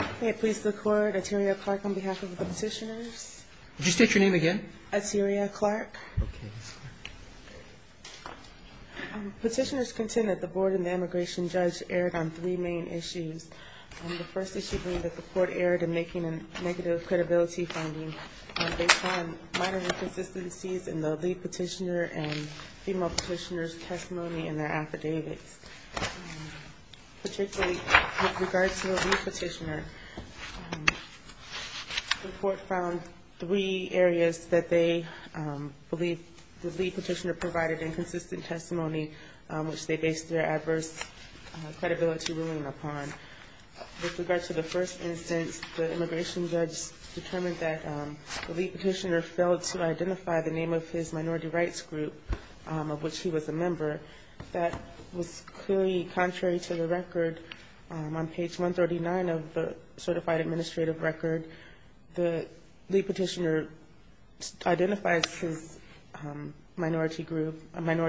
Okay, please look forward. Atiria Clark on behalf of the petitioners. Would you state your name again? Atiria Clark. Okay. Petitioners contend that the board and the immigration judge erred on three main issues. The first issue being that the court erred in making a negative credibility finding based on minor inconsistencies in the lead petitioner and female petitioner's testimony in their affidavits. Particularly with regard to the lead petitioner, the court found three areas that they believe the lead petitioner provided inconsistent testimony which they based their adverse credibility ruling upon. With regard to the first instance, the immigration judge determined that the lead petitioner failed to identify the name of his minority rights group of which he was a member. That was clearly contrary to the record. On page 139 of the certified administrative record, the lead petitioner identifies his minority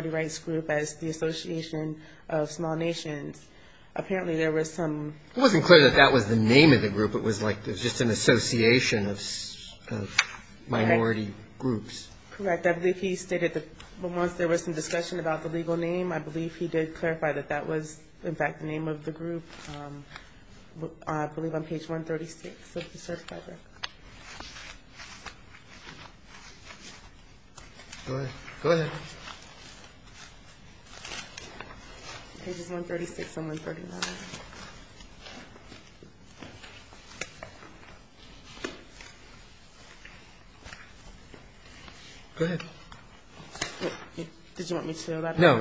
rights group as the Association of Small Nations. Apparently there was some... It wasn't clear that that was the name of the group. It was like just an association of minority groups. Correct. I believe he stated that once there was some discussion about the legal name, I believe he did clarify that that was in fact the name of the group. I believe on page 136 of the certified record. Go ahead. Pages 136 and 139. Go ahead. Did you want me to? No.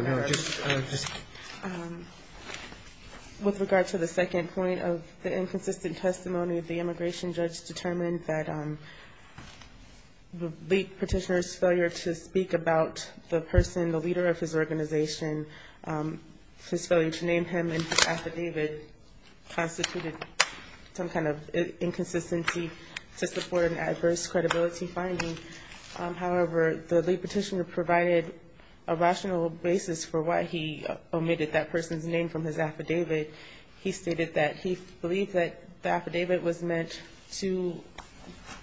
With regard to the second point of the inconsistent testimony, the immigration judge determined that the lead petitioner's failure to speak about the person, the leader of his organization, his failure to name him in his affidavit, constituted some kind of inconsistency to support an adverse credibility finding. However, the lead petitioner provided a rational basis for why he omitted that person's name from his affidavit. He stated that he believed that the affidavit was meant to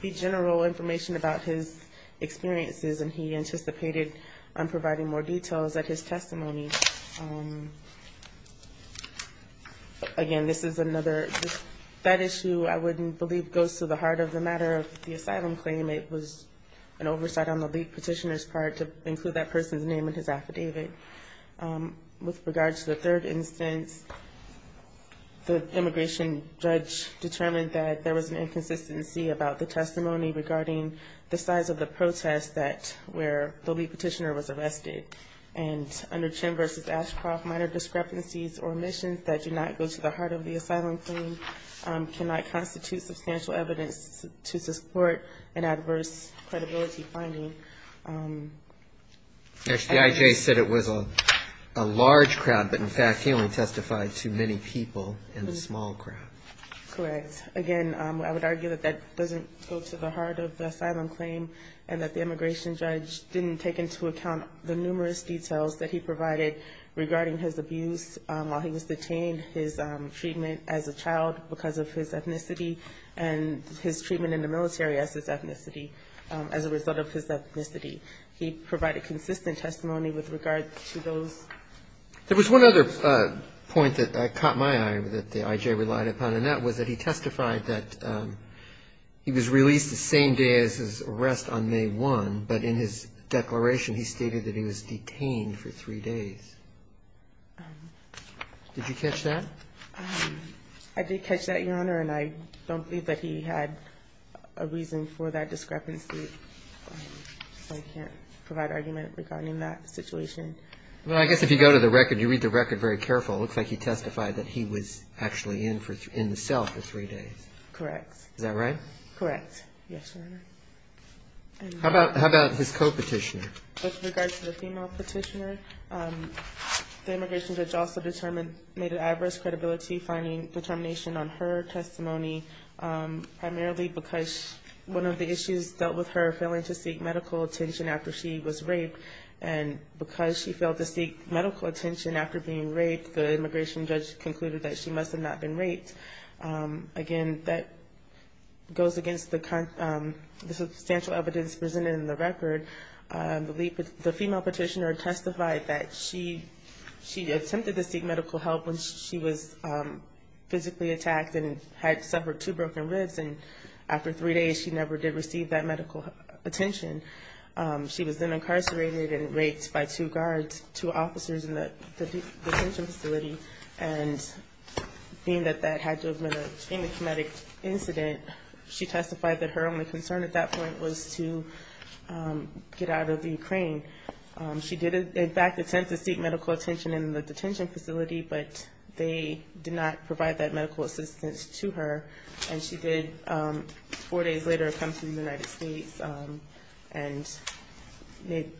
be general information about his experiences, and he anticipated on providing more details at his testimony. Again, this is another... An oversight on the lead petitioner's part to include that person's name in his affidavit. With regard to the third instance, the immigration judge determined that there was an inconsistency about the testimony regarding the size of the protest where the lead petitioner was arrested. And under Chen v. Ashcroft, minor discrepancies or omissions that do not go to the heart of the asylum claim cannot constitute substantial evidence to support an adverse credibility finding. And... Correct. Again, I would argue that that doesn't go to the heart of the asylum claim, and that the immigration judge didn't take into account the numerous details that he provided regarding his abuse while he was detained, his treatment as a child because of his ethnicity, and his treatment in the military as a result of his ethnicity. He provided consistent testimony with regard to those. There was one other point that caught my eye that the I.J. relied upon, and that was that he testified that he was released the same day as his arrest on May 1, but in his declaration he stated that he was detained for three days. Did you catch that? I did catch that, Your Honor, and I don't believe that he had a reason for that discrepancy. I can't provide argument regarding that situation. Well, I guess if you go to the record, you read the record very careful, it looks like he testified that he was actually in the cell for three days. Correct. How about his co-petitioner? With regard to the female petitioner, the immigration judge also made an adverse credibility finding determination on her testimony, primarily because one of the issues dealt with her failing to seek medical attention after she was raped, and because she failed to seek medical attention after being raped, the immigration judge concluded that she must have not been raped. Again, that goes against the substantial evidence presented in the record. The female petitioner testified that she attempted to seek medical help when she was physically attacked and had suffered two broken ribs, and after three days she never did receive that medical attention. She was then incarcerated and raped by two guards, two officers in the detention facility, and being that that had led to a traumatic incident, she testified that her only concern at that point was to get out of the Ukraine. She did, in fact, attempt to seek medical attention in the detention facility, but they did not provide that medical assistance to her, and she did four days later come to the United States and made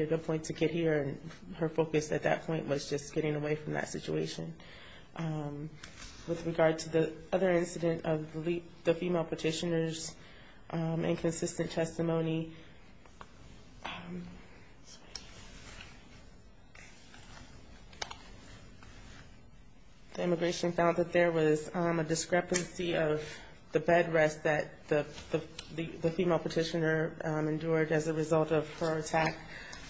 it a point to get here, and her focus at that point was just to get out of Ukraine. With regard to the other incident of the female petitioner's inconsistent testimony, the immigration found that there was a discrepancy of the bed rest that the female petitioner endured as a result of her attack,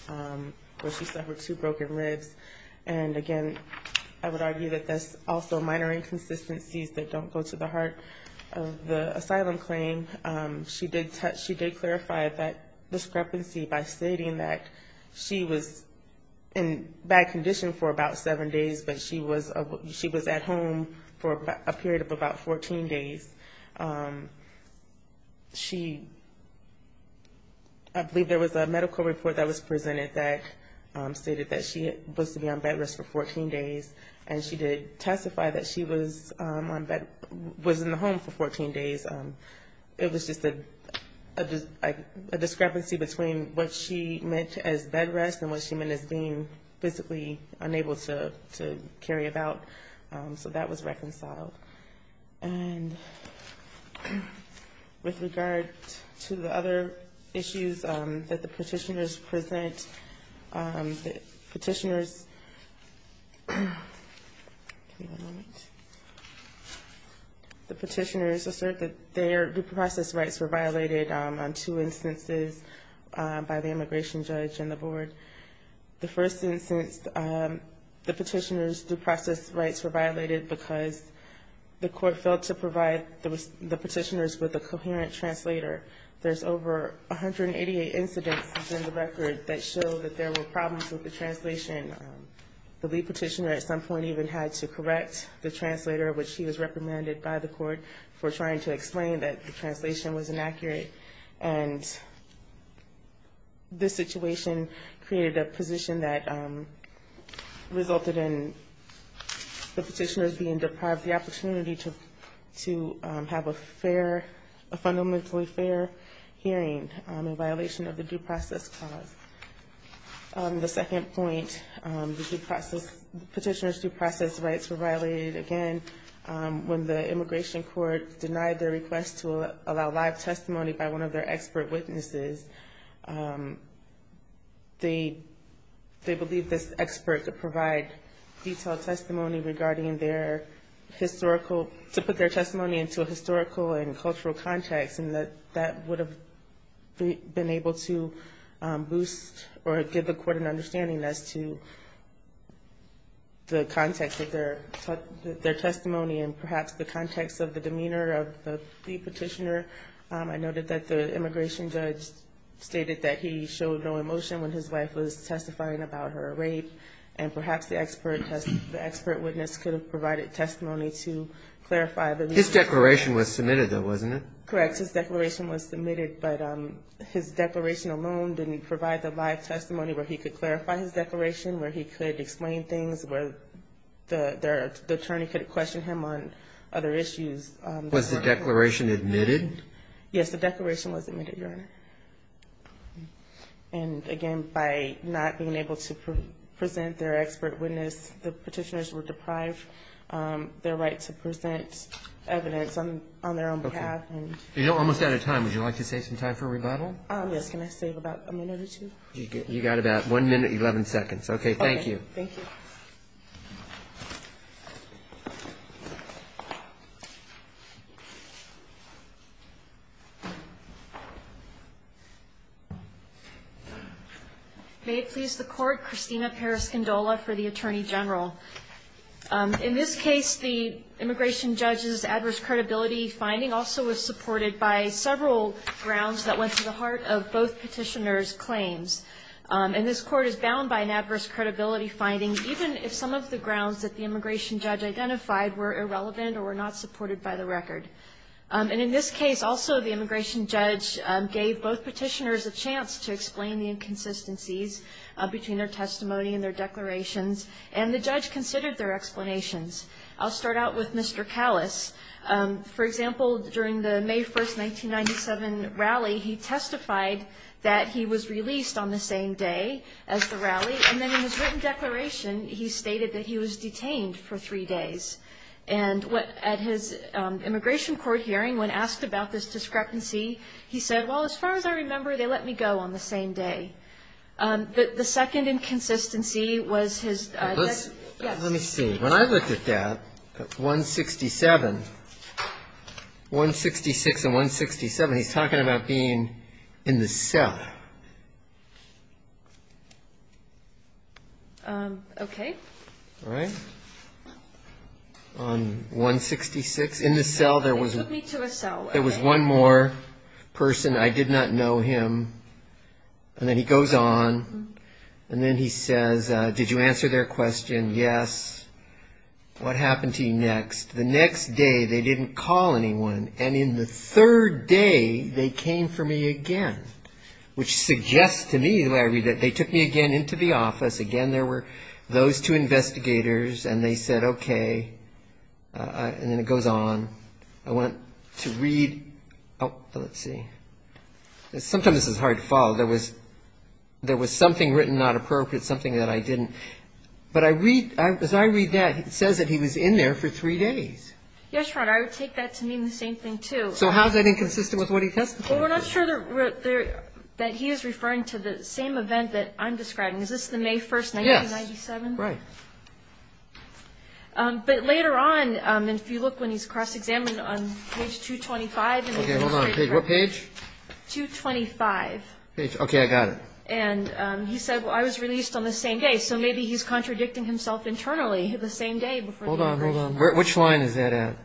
where she suffered two broken ribs, and again, I would say inconsistencies that don't go to the heart of the asylum claim. She did clarify that discrepancy by stating that she was in bad condition for about seven days, but she was at home for a period of about 14 days. She, I believe there was a medical report that was presented that stated that she was to be on bed rest for 14 days, and she did testify that she was on bed rest for about seven days, but she was on bed, was in the home for 14 days. It was just a discrepancy between what she meant as bed rest and what she meant as being physically unable to carry about, so that was reconciled. And with regard to the other issues that the petitioners present, the petitioners, give me one moment. The petitioners assert that their due process rights were violated on two instances by the immigration judge and the board. The first instance, the petitioner's due process rights were violated because the court failed to provide the petitioners with a coherent translator. There's over 188 incidents in the record that show that there were problems with the translation. The judge was not happy with the translator, which he was reprimanded by the court for trying to explain that the translation was inaccurate, and this situation created a position that resulted in the petitioners being deprived the opportunity to have a fair, a fundamentally fair hearing in violation of the due process clause. The second point, the due process, the petitioners' due process rights were violated again when the immigration court denied their request to allow live testimony by one of their expert witnesses. They believe this expert could provide detailed testimony regarding their historical, to put their testimony into a historical and cultural context, and that would have been able to boost or give the court an understanding as to the context of their testimony, and perhaps the context of the demeanor of the petitioner. I noted that the immigration judge stated that he showed no emotion when his wife was testifying about her rape, and perhaps the expert witness could have provided testimony to clarify the reason. His declaration was submitted, though, wasn't it? Yes, the declaration was submitted, Your Honor. And again, by not being able to present their expert witness, the petitioners were deprived their right to present evidence on their own behalf. And you're almost out of time. Would you like to save some time for a rebuttal? Yes, can I save about a minute or two? You've got about one minute, 11 seconds. Okay, thank you. May it please the Court, Christina Periscindola for the Attorney General. In this case, the immigration judge's adverse credibility finding also was supported by several grounds that went to the heart of both petitioners' claims. And this Court is bound by an adverse credibility finding, even if some of the grounds that the immigration judge identified were irrelevant or were not supported by the record. And in this case, also, the immigration judge gave both petitioners a chance to explain the inconsistencies between their testimony and their declarations, and the judge considered their explanations. I'll start out with Mr. Kallis. He said, well, they let me go on the same day as the rally. And then in his written declaration, he stated that he was detained for three days. And at his immigration court hearing, when asked about this discrepancy, he said, well, as far as I remember, they let me go on the same day. The second inconsistency was his... Let me see. When I looked at that, 167, 166 and 167, he's talking about being in the cell. Okay. All right. On 166, in the cell, there was one more person. I did not know him. And then he goes on. And then he says, did you answer their question? Yes. What happened to you next? The next day, they didn't call anyone. And in the third day, they came for me again, which suggests to me that what happened to me was that they didn't call anyone. And the way I read it, they took me again into the office. Again, there were those two investigators. And they said, okay. And then it goes on. I went to read. Oh, let's see. Sometimes this is hard to follow. There was something written not appropriate, something that I didn't. But as I read that, it says that he was in there for three days. Yes, Your Honor. I would take that to mean the same thing, too. So how is that inconsistent with what he testified? Well, we're not sure that he is referring to the same event that I'm describing. Is this the May 1st, 1997? Yes. Right. But later on, if you look when he's cross-examined on page 225. Okay. Hold on. What page? 225. Okay. I got it. And he said, well, I was released on the same day. So maybe he's contradicting himself internally the same day. Hold on. Hold on. Which line is that at?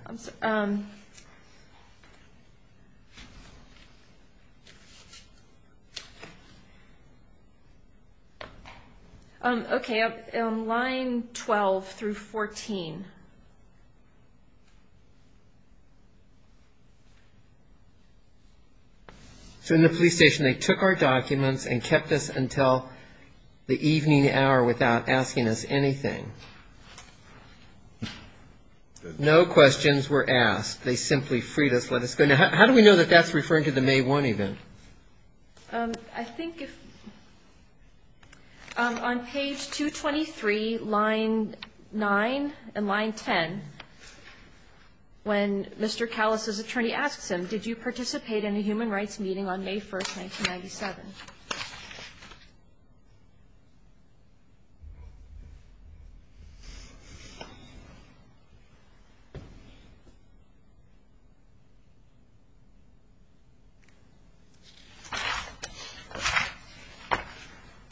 Okay. Line 12 through 14. So in the police station, they took our documents and kept us until the evening hour without asking us anything. No questions were asked. They simply freed us, let us go. Now, how do we know that that's referring to the May 1 event? I think if on page 223, line 9 and line 11, that's referring to the May 1 event. Okay. And then line 10, when Mr. Callis' attorney asks him, did you participate in a human rights meeting on May 1, 1997?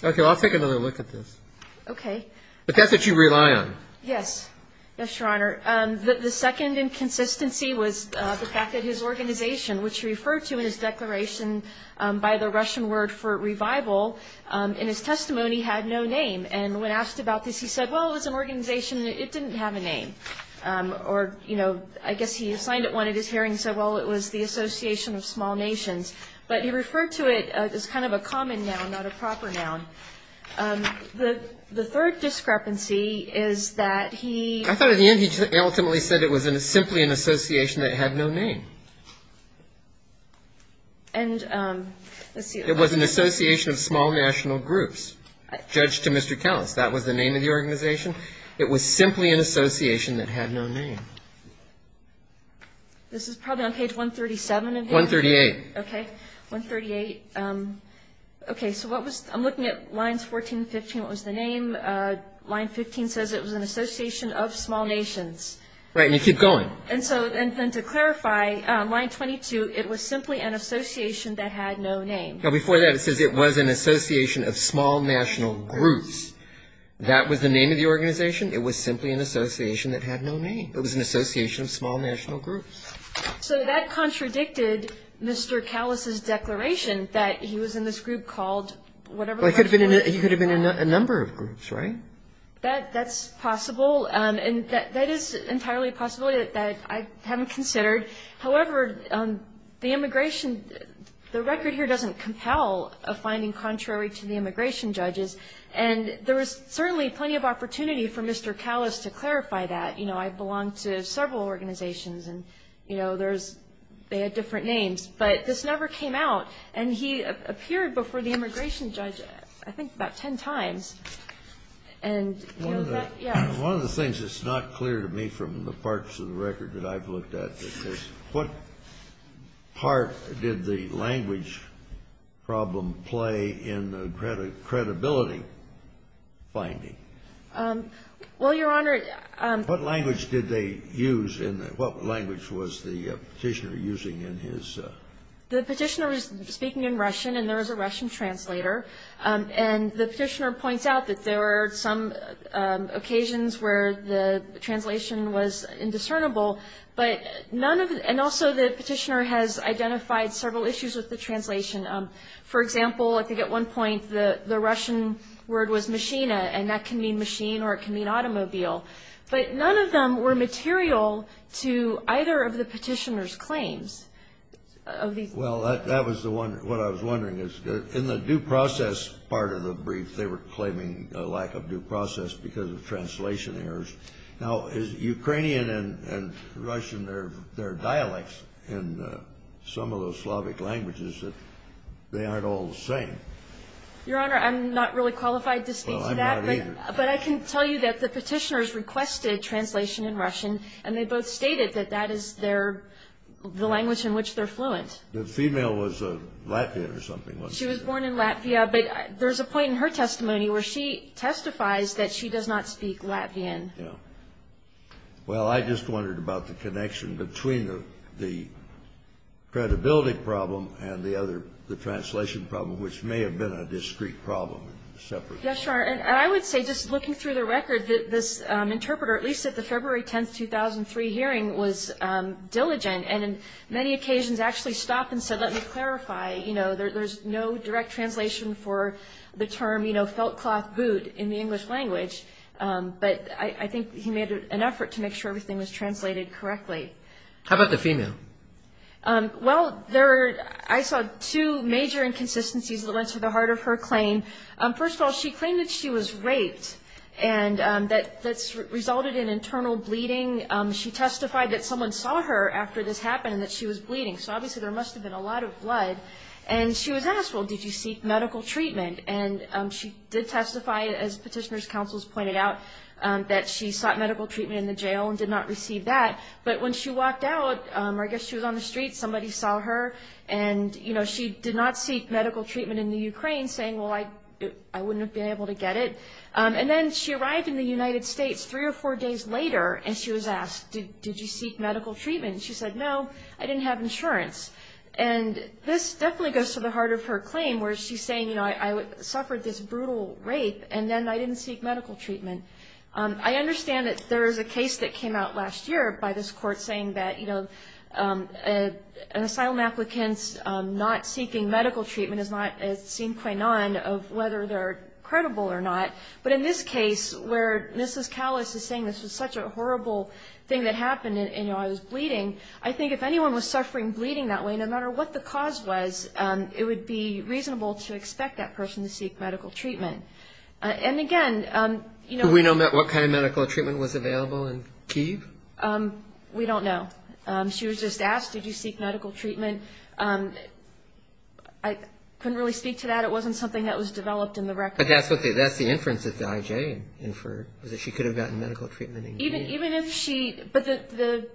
Okay. Well, I'll take another look at this. Okay. But that's what you rely on. Yes. Yes, Your Honor. The second inconsistency was the fact that his organization, which he referred to in his declaration by the Russian word for revival, in his testimony had no name. And when asked about this, he said, well, it's an organization. It didn't have a name. Or, you know, I guess he assigned it one at his hearing, said, well, it was the Association of Small Nations. But he referred to it as kind of a common noun, not a proper noun. The third discrepancy is that he... And let's see... It was an Association of Small National Groups. Judged to Mr. Callis, that was the name of the organization. It was simply an association that had no name. This is probably on page 137 of your... 138. Okay. 138. Okay. So what was... I'm looking at lines 14 and 15. What was the name? Line 15 says it was an Association of Small Nations. Right. And you keep going. And to clarify, line 22, it was simply an association that had no name. Now, before that, it says it was an Association of Small National Groups. That was the name of the organization. It was simply an association that had no name. It was an Association of Small National Groups. So that contradicted Mr. Callis's declaration that he was in this group called whatever... He could have been in a number of groups, right? That's possible. And that is entirely a possibility that I haven't considered. However, the immigration, the record here doesn't compel a finding contrary to the immigration judges. And there was certainly plenty of opportunity for Mr. Callis to clarify that. You know, I belonged to several organizations, and, you know, there's... they had different names. But this never came out. And he appeared before the immigration judge, I think, about ten times. And, you know, that... Yeah. One of the things that's not clear to me from the parts of the record that I've looked at is what part did the language problem play in the credibility finding? Well, Your Honor... What language did they use in the... What language was the Petitioner using in his... The Petitioner was speaking in Russian, and there was a Russian translator. And the Petitioner points out that there were some occasions where the translation was indiscernible. But none of... And also the Petitioner has identified several issues with the translation. For example, I think at one point the Russian word was machina, and that can mean machine, or it can mean automobile. But none of them were material to either of the Petitioner's claims. Well, that was the one... What I was wondering is, in the due process part of the brief, they were claiming a lack of due process because of translation errors. Now, is Ukrainian and Russian, they're dialects in some of those Slavic languages, that they aren't all the same? Your Honor, I'm not really qualified to speak to that, but I can tell you that the Petitioner's requested translation in Russian, and they both stated that that is their... The language in which they're fluent. The female was Latvian or something, wasn't she? She was born in Latvia, but there's a point in her testimony where she testifies that she does not speak Latvian. Well, I just wondered about the connection between the credibility problem and the other, the translation problem, which may have been a discrete problem in separate cases. Yes, Your Honor, and I would say, just looking through the record, that this interpreter, at least at the February 10, 2003 hearing, was diligent, and in many occasions actually stopped and said, let me clarify, you know, there's no direct translation for the term, you know, felt cloth boot in the English language. But I think he made an effort to make sure everything was translated correctly. How about the female? Well, I saw two major inconsistencies that went to the heart of her claim. First of all, she claimed that she was raped, and that resulted in internal bleeding. She testified that someone saw her after this happened, and that she was bleeding, so obviously there must have been a lot of blood. And she was asked, well, did you seek medical treatment? And she did testify, as petitioner's counsels pointed out, that she sought medical treatment in the jail and did not receive that. But when she walked out, or I guess she was on the street, somebody saw her, and, you know, she did not seek medical treatment in the Ukraine, saying, well, I wouldn't have been able to get it. And then she arrived in the United States three or four days later, and she was asked, did you seek medical treatment? And she said, no, I didn't have insurance. And this definitely goes to the heart of her claim, where she's saying, you know, I suffered this brutal rape, and then I didn't seek medical treatment. I understand that there is a case that came out last year by this court saying that, you know, an asylum applicant's not seeking medical treatment is not, it seemed quite none of whether they're credible or not. But in this case, where Mrs. Callis is saying this was such a horrible thing that happened, and, you know, I was bleeding, I think if anyone was suffering bleeding that way, no matter what the cause was, it would be reasonable to expect that person to seek medical treatment. And, again, you know... We don't know. She was just asked, did you seek medical treatment? I couldn't really speak to that. It wasn't something that was developed in the record. But that's the inference that the IJ inferred, that she could have gotten medical treatment. Even if she, but the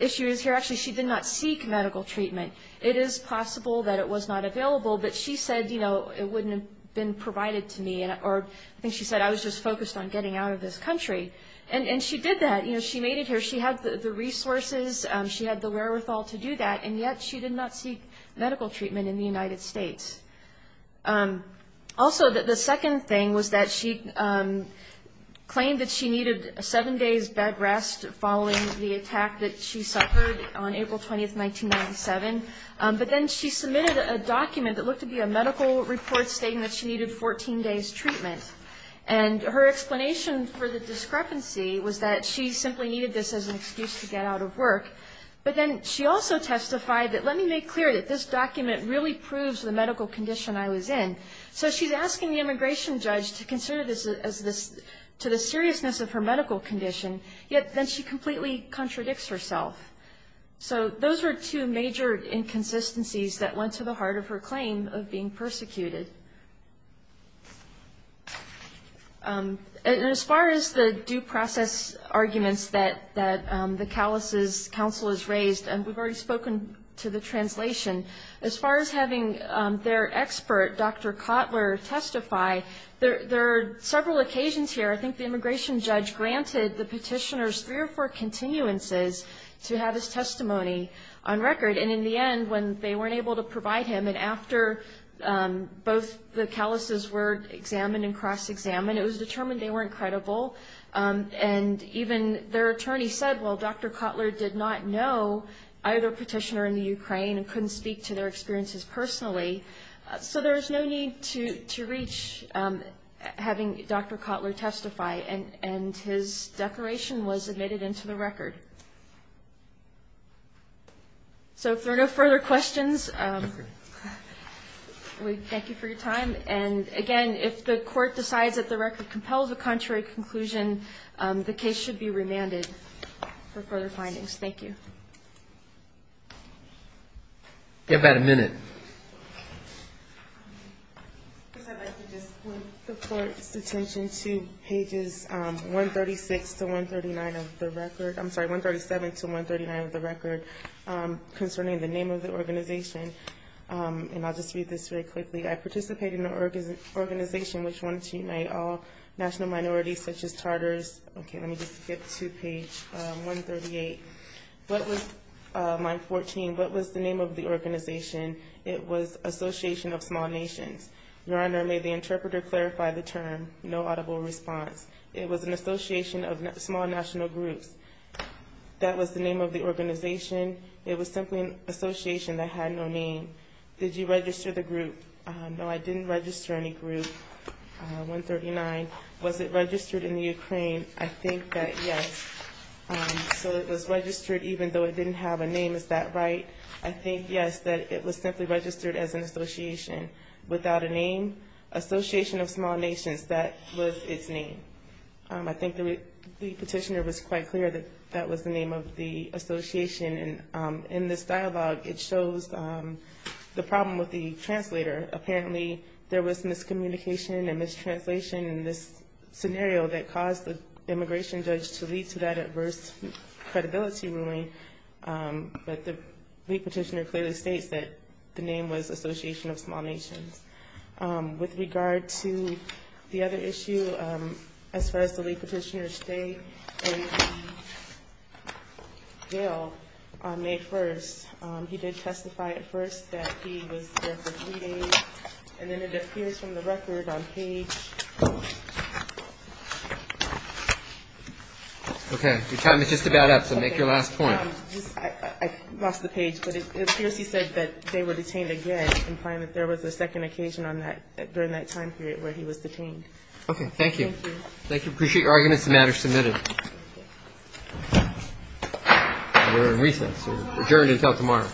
issue is here, actually, she did not seek medical treatment. It is possible that it was not available, but she said, you know, it wouldn't have been provided to me, or I think she said, I was just focused on getting out of this country. And she did that. You know, she made it here. She had the resources. She had the wherewithal to do that. And yet she did not seek medical treatment in the United States. Also, the second thing was that she claimed that she needed seven days bed rest following the attack that she suffered on April 20, 1997. But then she submitted a document that looked to be a medical report stating that she needed 14 days treatment. And her explanation for the discrepancy was that she simply needed this as an excuse to get out of work. But then she also testified that, let me make clear that this document really proves the medical condition I was in. So she's asking the immigration judge to consider this as this, to the seriousness of her medical condition. Yet then she completely contradicts herself. So those were two major inconsistencies that went to the heart of her claim of being persecuted. And as far as the due process arguments that the Cowles' counsel has raised, and we've already spoken to the translation, as far as having their expert, Dr. Cotler, testify, there are several occasions here I think the immigration judge granted the petitioner's three or four continuances to have his testimony on record. And in the end, when they weren't able to provide him, and after both the Cowles' were examined and cross-examined, it was determined they weren't credible. And even their attorney said, well, Dr. Cotler did not know either petitioner in the Ukraine and couldn't speak to their experiences personally. So there's no need to reach having Dr. Cotler testify. And his declaration was admitted into the record. So if there are no further questions, we thank you for your time. And again, if the court decides that the record compels a contrary conclusion, the case should be remanded for further findings. Thank you. Give that a minute. I'd like to just point the court's attention to pages 136 to 139 of the record. I'm sorry, 137 to 139 of the record, concerning the name of the organization. And I'll just read this very quickly. I participated in an organization which wanted to unite all national minorities such as charters. Okay, let me just get to page 138. Line 14, what was the name of the organization? It was Association of Small Nations. Your Honor, may the interpreter clarify the term? No audible response. It was an association of small national groups. That was the name of the organization. It was simply an association that had no name. Did you register the group? No, I didn't register any group. 139, was it registered in the Ukraine? I think that yes. So it was registered even though it didn't have a name, is that right? I think yes, that it was simply registered as an association without a name. Association of Small Nations, that was its name. I think the petitioner was quite clear that that was the name of the association. And in this dialogue it shows the problem with the translator. Apparently there was miscommunication and mistranslation in this scenario that caused the immigration judge to lead to that adverse credibility ruling. But the petitioner clearly states that the name was Association of Small Nations. With regard to the other issue, as far as the way petitioners stay in the jail, on May 1st he did testify at first that he was there for three days and then it appears from the record on page... Okay, your time is just about up, so make your last point. I lost the page, but it appears he said that they were detained again, implying that there was a second occasion during that time period where he was detained. Okay, thank you. Appreciate your arguments, the matter is submitted. We're in recess, adjourned until tomorrow.